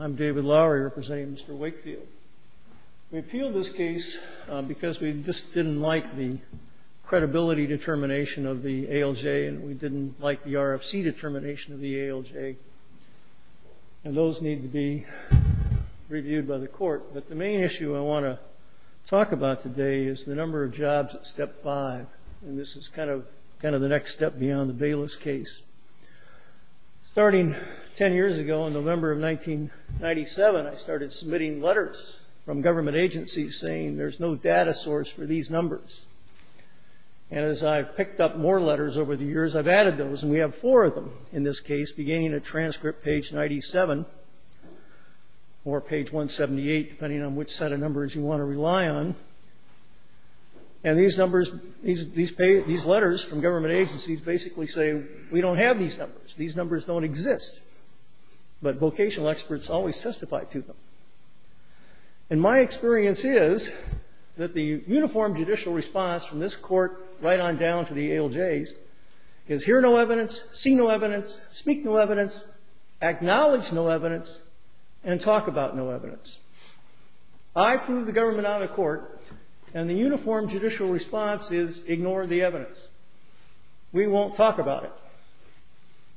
I'm David Lowery, representing Mr. Wakefield. We appeal this case because we just didn't like the credibility determination of the ALJ and we didn't like the RFC determination of the ALJ, and those need to be reviewed by the court, but the main issue I want to talk about today is the number of jobs at Step 5, and this is kind of the next step beyond the Bayless case. Starting 10 years ago in November of 1997, I started submitting letters from government agencies saying there's no data source for these numbers, and as I've picked up more letters over the years, I've added those, and we have four of them in this case, beginning at transcript page 97 or page 178, depending on which set of numbers you want to rely on, and these numbers, these letters from government agencies basically say we don't have these numbers. These numbers don't exist, but vocational experts always testify to them, and my experience is that the uniform judicial response from this court right on down to the ALJs is hear no evidence, see no evidence, speak no evidence, acknowledge no evidence, and talk about no evidence. I've moved the government out of court, and the uniform judicial response is ignore the evidence. We won't talk about it,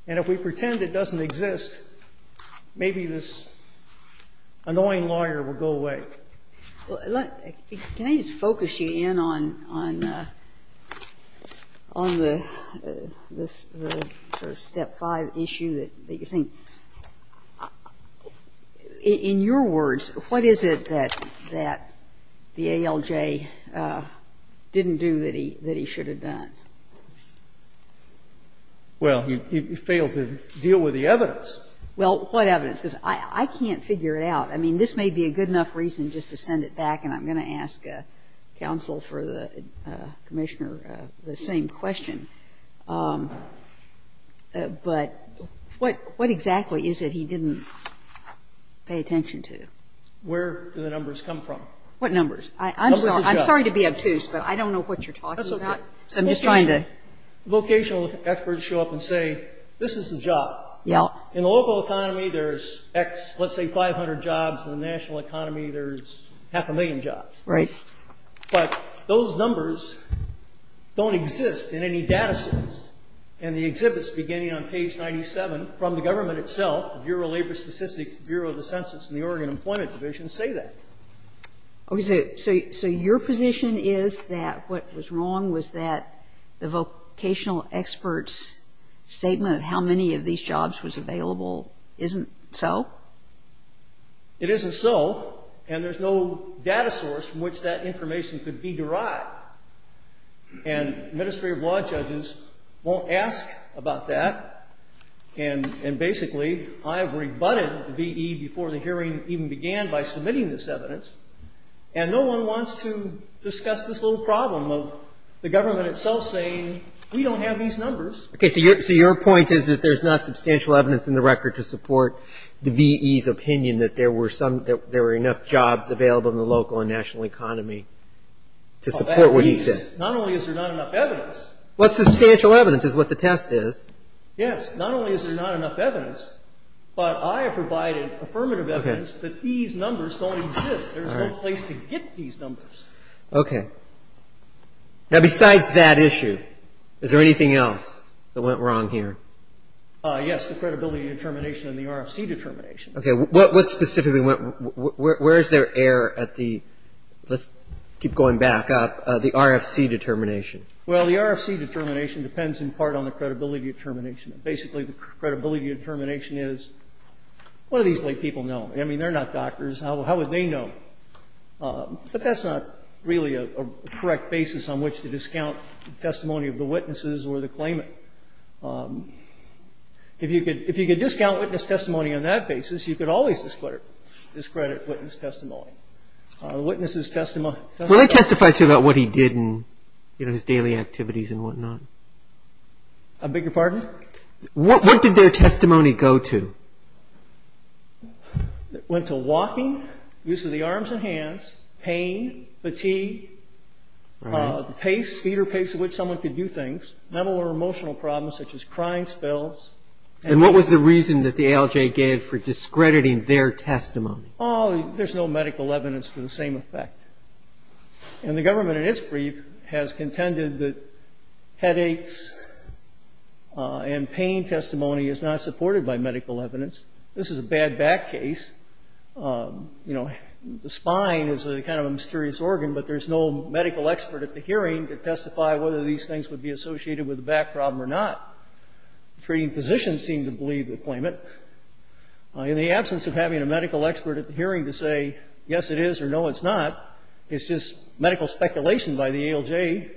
and if we pretend it doesn't exist, maybe this annoying lawyer will go away. Well, can I just focus you in on the Step 5 issue that you're saying? In your words, what is it that the ALJ didn't do that he should have done? Well, he failed to deal with the evidence. Well, what evidence? Because I can't figure it out. I mean, this may be a good enough reason just to send it back, and I'm going to ask counsel for the Commissioner the same question. But what exactly is it he didn't pay attention to? Where do the numbers come from? What numbers? I'm sorry to be obtuse, but I don't know what you're talking about. That's okay. So I'm just trying to ---- Okay. So your position is that what was wrong was that the vocational experts showed up and say, this is the job. Yeah. In the local economy, there's X, let's say, 500 jobs. In the national economy, there's half a million jobs. Right. But those numbers don't exist in any data set. And the exhibits beginning on page 97 from the government itself, Bureau of Labor Statistics, Bureau of the Census, and the Oregon Employment Division say that. Okay. So your position is that what was wrong was that the vocational experts' statement of how many of these jobs was available isn't so? It isn't so. And there's no data source from which that information could be derived. And the Ministry of Law judges won't ask about that. And basically, I rebutted the V.E. before the hearing even began by submitting this evidence. And no one wants to discuss this little problem of the government itself saying, we don't have these numbers. Okay. So your point is that there's not substantial evidence in the record to support the V.E.'s opinion that there were some ---- that there were enough jobs available in the local and national economy to support what he said. Not only is there not enough evidence. What's substantial evidence is what the test is. Yes. Not only is there not enough evidence, but I have provided affirmative evidence that these numbers don't exist. There's no place to get these numbers. Okay. Now, besides that issue, is there anything else that went wrong here? Yes, the credibility determination and the RFC determination. Okay. What specifically went ---- where is there error at the ---- let's keep going back up, the RFC determination? Well, the RFC determination depends in part on the credibility determination. Basically, the credibility determination is, what do these people know? I mean, they're not doctors. How would they know? But that's not really a correct basis on which to discount the testimony of the witnesses or the claimant. If you could discount witness testimony on that basis, you could always discredit witness testimony. The witnesses' testimony ---- Will they testify to you about what he did and his daily activities and whatnot? I beg your pardon? What did their testimony go to? It went to walking, use of the arms and hands, pain, fatigue, pace, speed or pace at which someone could do things, mental or emotional problems such as crying spells. And what was the reason that the ALJ gave for discrediting their testimony? Oh, there's no medical evidence to the same effect. And the government in its brief has contended that headaches and pain testimony is not supported by medical evidence. This is a bad back case. You know, the spine is kind of a mysterious organ, but there's no medical expert at the hearing to testify whether these things would be associated with the back problem or not. The treating physician seemed to believe the claimant. In the absence of having a medical expert at the hearing to say yes it is or no it's not, it's just medical speculation by the ALJ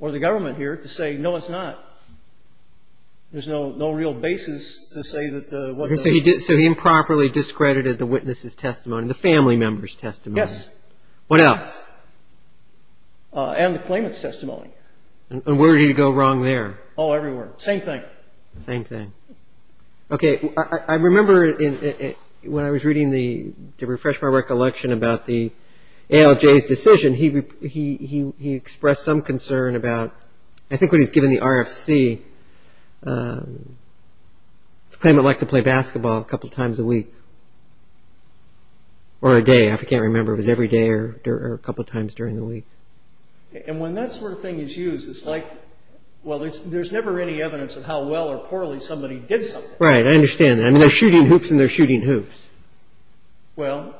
or the government here to say no, it's not. There's no real basis to say that what the ---- So he improperly discredited the witness' testimony, the family member's testimony. Yes. What else? And the claimant's testimony. And where did he go wrong there? Oh, everywhere. Same thing. Same thing. Okay. I remember when I was reading the, to refresh my recollection about the ALJ's decision, he expressed some concern about, I think when he was given the RFC, the claimant liked to play basketball a couple times a week or a day. I can't remember if it was every day or a couple times during the week. And when that sort of thing is used, it's like, well, there's never any evidence of how well or poorly somebody did something. Right. I understand that. I mean, they're shooting hoops and they're shooting hoops. Well,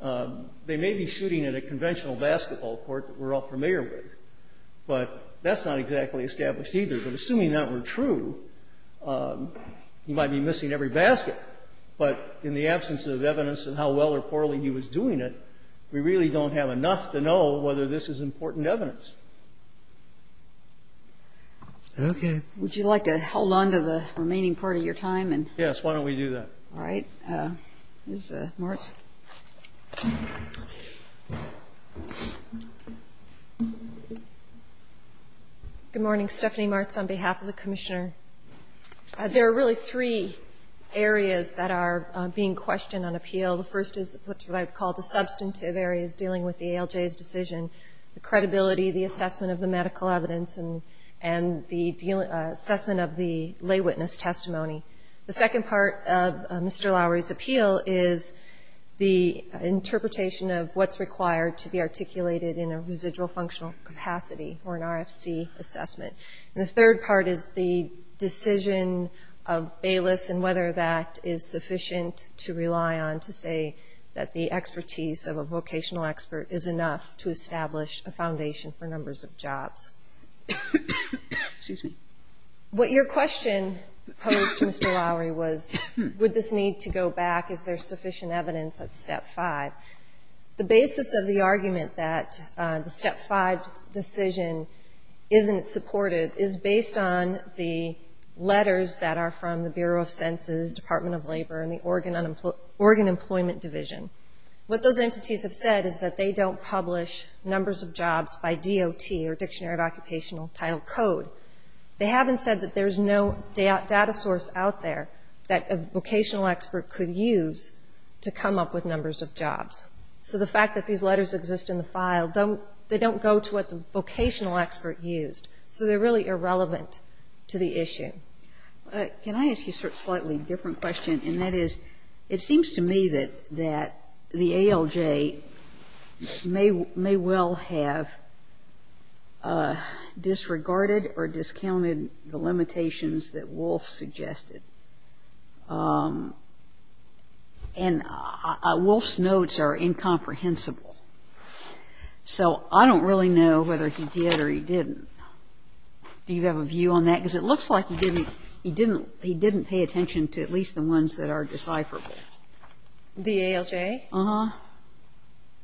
they may be shooting at a conventional basketball court that we're all familiar with, but that's not exactly established either. But assuming that were true, he might be missing every basket. But in the absence of evidence of how well or poorly he was doing it, we really don't have enough to know whether this is important evidence. Okay. Would you like to hold on to the remaining part of your time? Yes. Why don't we do that? All right. Ms. Martz. Good morning. Stephanie Martz on behalf of the Commissioner. There are really three areas that are being questioned on appeal. The first is what I would call the substantive areas dealing with the ALJ's decision, the credibility, the assessment of the medical evidence, and the assessment of the lay witness testimony. The second part of Mr. Lowery's appeal is the interpretation of what's required to be articulated in a residual functional capacity or an RFC assessment. And the third part is the decision of Bayless and whether that is sufficient to rely on to say that the expertise of a vocational expert is enough to establish a foundation for numbers of jobs. Excuse me. What your question posed to Mr. Lowery was, would this need to go back? Is there sufficient evidence at step five? The basis of the argument that the step five decision isn't supportive is based on the letters that are from the Bureau of Census, Department of Labor, and the Oregon Employment Division. What those entities have said is that they don't publish numbers of jobs by DOT or Dictionary of Occupational Title Code. They haven't said that there's no data source out there that a vocational expert could use to come up with numbers of jobs. So the fact that these letters exist in the file, they don't go to what the vocational expert used. So they're really irrelevant to the issue. Can I ask you a slightly different question? And that is, it seems to me that the ALJ may well have disregarded or discounted the limitations that Wolf suggested. And Wolf's notes are incomprehensible. So I don't really know whether he did or he didn't. Do you have a view on that? Because it looks like he didn't pay attention to at least the ones that are decipherable. The ALJ? Uh-huh.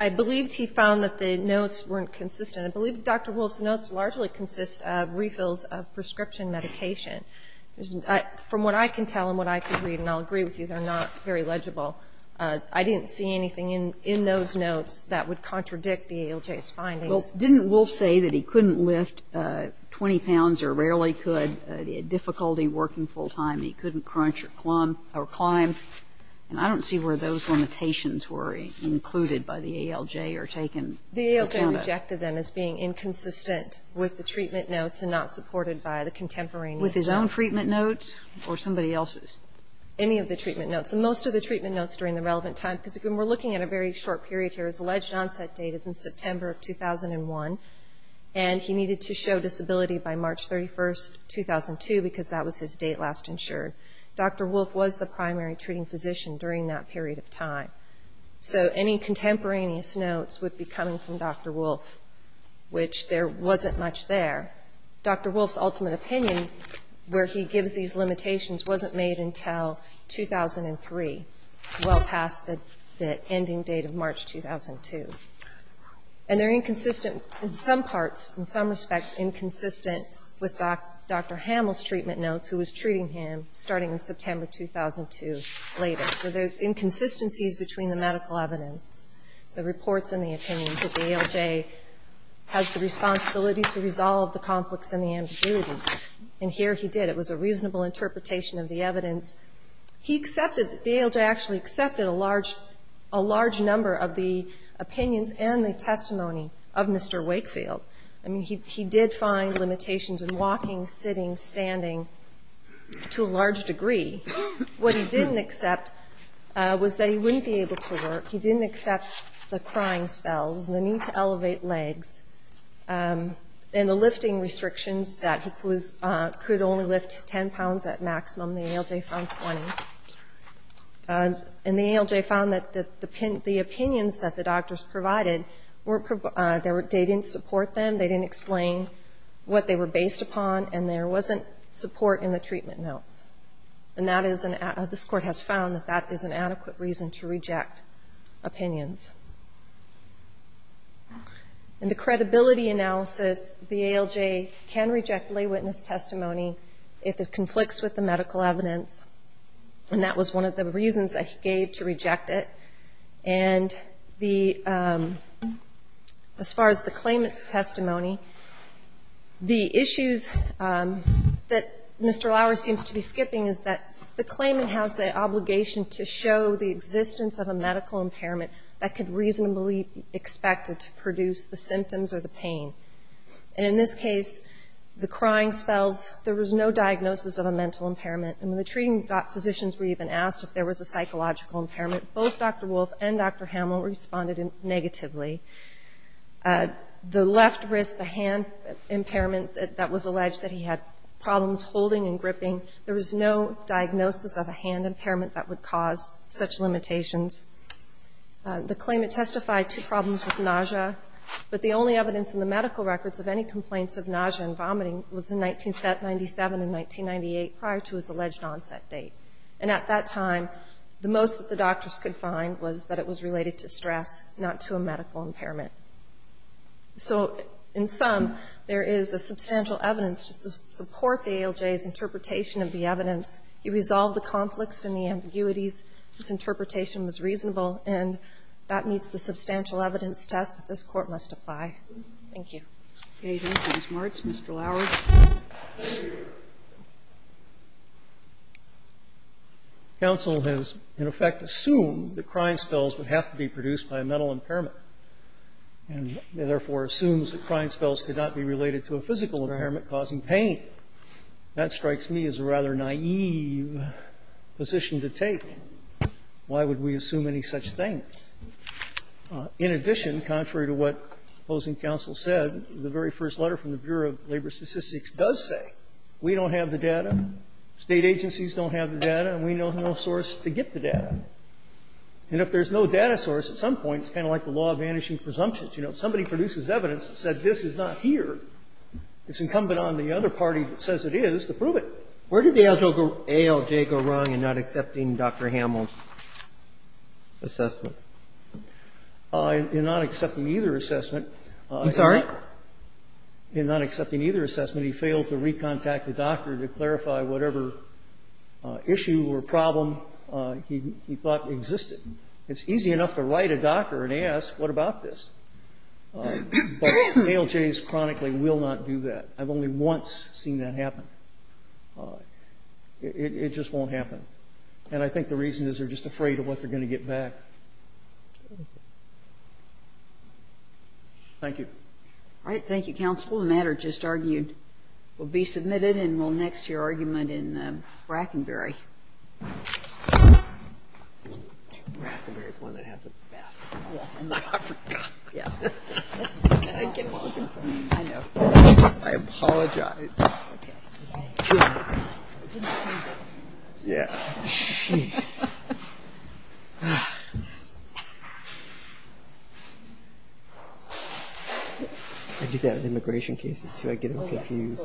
I believed he found that the notes weren't consistent. I believe Dr. Wolf's notes largely consist of refills of prescription medication. From what I can tell and what I can read, and I'll agree with you, they're not very legible, I didn't see anything in those notes that would contradict the ALJ's findings. Well, didn't Wolf say that he couldn't lift 20 pounds or rarely could, had difficulty working full time, he couldn't crunch or climb? And I don't see where those limitations were included by the ALJ or taken. The ALJ rejected them as being inconsistent with the treatment notes and not supported by the contemporaneous notes. With his own treatment notes or somebody else's? Any of the treatment notes. And most of the treatment notes during the relevant time, because when we're looking at a very short period here, his alleged onset date is in September of 2001, and he needed to show disability by March 31, 2002, because that was his date last insured. Dr. Wolf was the primary treating physician during that period of time. So any contemporaneous notes would be coming from Dr. Wolf, which there wasn't much there. Dr. Wolf's ultimate opinion, where he gives these limitations, wasn't made until 2003, well past the ending date of March 2002. And they're inconsistent in some parts, in some respects, inconsistent with Dr. Hamill's treatment notes, who was treating him starting in September 2002 later. So there's inconsistencies between the medical evidence, the reports, and the opinions that the ALJ has the responsibility to resolve the conflicts and the ambiguity. And here he did. It was a reasonable interpretation of the evidence. The ALJ actually accepted a large number of the opinions and the testimony of Mr. Wakefield. I mean, he did find limitations in walking, sitting, standing, to a large degree. What he didn't accept was that he wouldn't be able to work. He didn't accept the crying spells, the need to elevate legs, and the lifting restrictions that he could only lift 10 pounds at maximum. The ALJ found 20. And the ALJ found that the opinions that the doctors provided, they didn't support them, they didn't explain what they were based upon, and there wasn't support in the treatment notes. And this Court has found that that is an adequate reason to reject opinions. In the credibility analysis, the ALJ can reject lay witness testimony if it conflicts with the medical evidence, and that was one of the reasons that he gave to reject it. And as far as the claimant's testimony, the issues that Mr. Lauer seems to be skipping is that the claimant has the obligation to show the existence of a medical impairment that could reasonably be expected to produce the symptoms or the pain. And in this case, the crying spells, there was no diagnosis of a mental impairment. And when the treating physicians were even asked if there was a psychological impairment, both Dr. Wolf and Dr. Hamel responded negatively. The left wrist, the hand impairment that was alleged that he had problems holding and gripping, there was no diagnosis of a hand impairment that would cause such limitations. The claimant testified to problems with nausea, but the only evidence in the medical records of any complaints of nausea and vomiting was in 1997 and 1998, prior to his alleged onset date. And at that time, the most that the doctors could find was that it was related to stress, not to a medical impairment. So in sum, there is a substantial evidence to support the ALJ's interpretation of the evidence. He resolved the conflicts and the ambiguities. His interpretation was reasonable, and that meets the substantial evidence test that this Court must apply. Thank you. Ms. Martz, Mr. Lauer. Thank you. Counsel has, in effect, assumed that crime spells would have to be produced by a mental impairment, and therefore assumes that crime spells could not be related to a physical impairment causing pain. That strikes me as a rather naive position to take. Why would we assume any such thing? In addition, contrary to what opposing counsel said, the very first letter from the Bureau of Labor Statistics does say, we don't have the data, State agencies don't have the data, and we know no source to get the data. And if there's no data source, at some point, it's kind of like the law of vanishing presumptions. You know, if somebody produces evidence that says this is not here, it's incumbent on the other party that says it is to prove it. Where did the ALJ go wrong in not accepting Dr. Hamel's assessment? In not accepting either assessment. I'm sorry? In not accepting either assessment, he failed to recontact the doctor to clarify whatever issue or problem he thought existed. It's easy enough to write a doctor and ask, what about this? But ALJs chronically will not do that. I've only once seen that happen. It just won't happen. And I think the reason is they're just afraid of what they're going to get back. Thank you. All right. Thank you, Counsel. The matter just argued will be submitted and will next to your argument in Brackenberry. Brackenberry is one that has the best coffee in Africa. I know. I apologize. Yeah. Jeez. Ugh. I do that in immigration cases too. I get them confused. Ugh.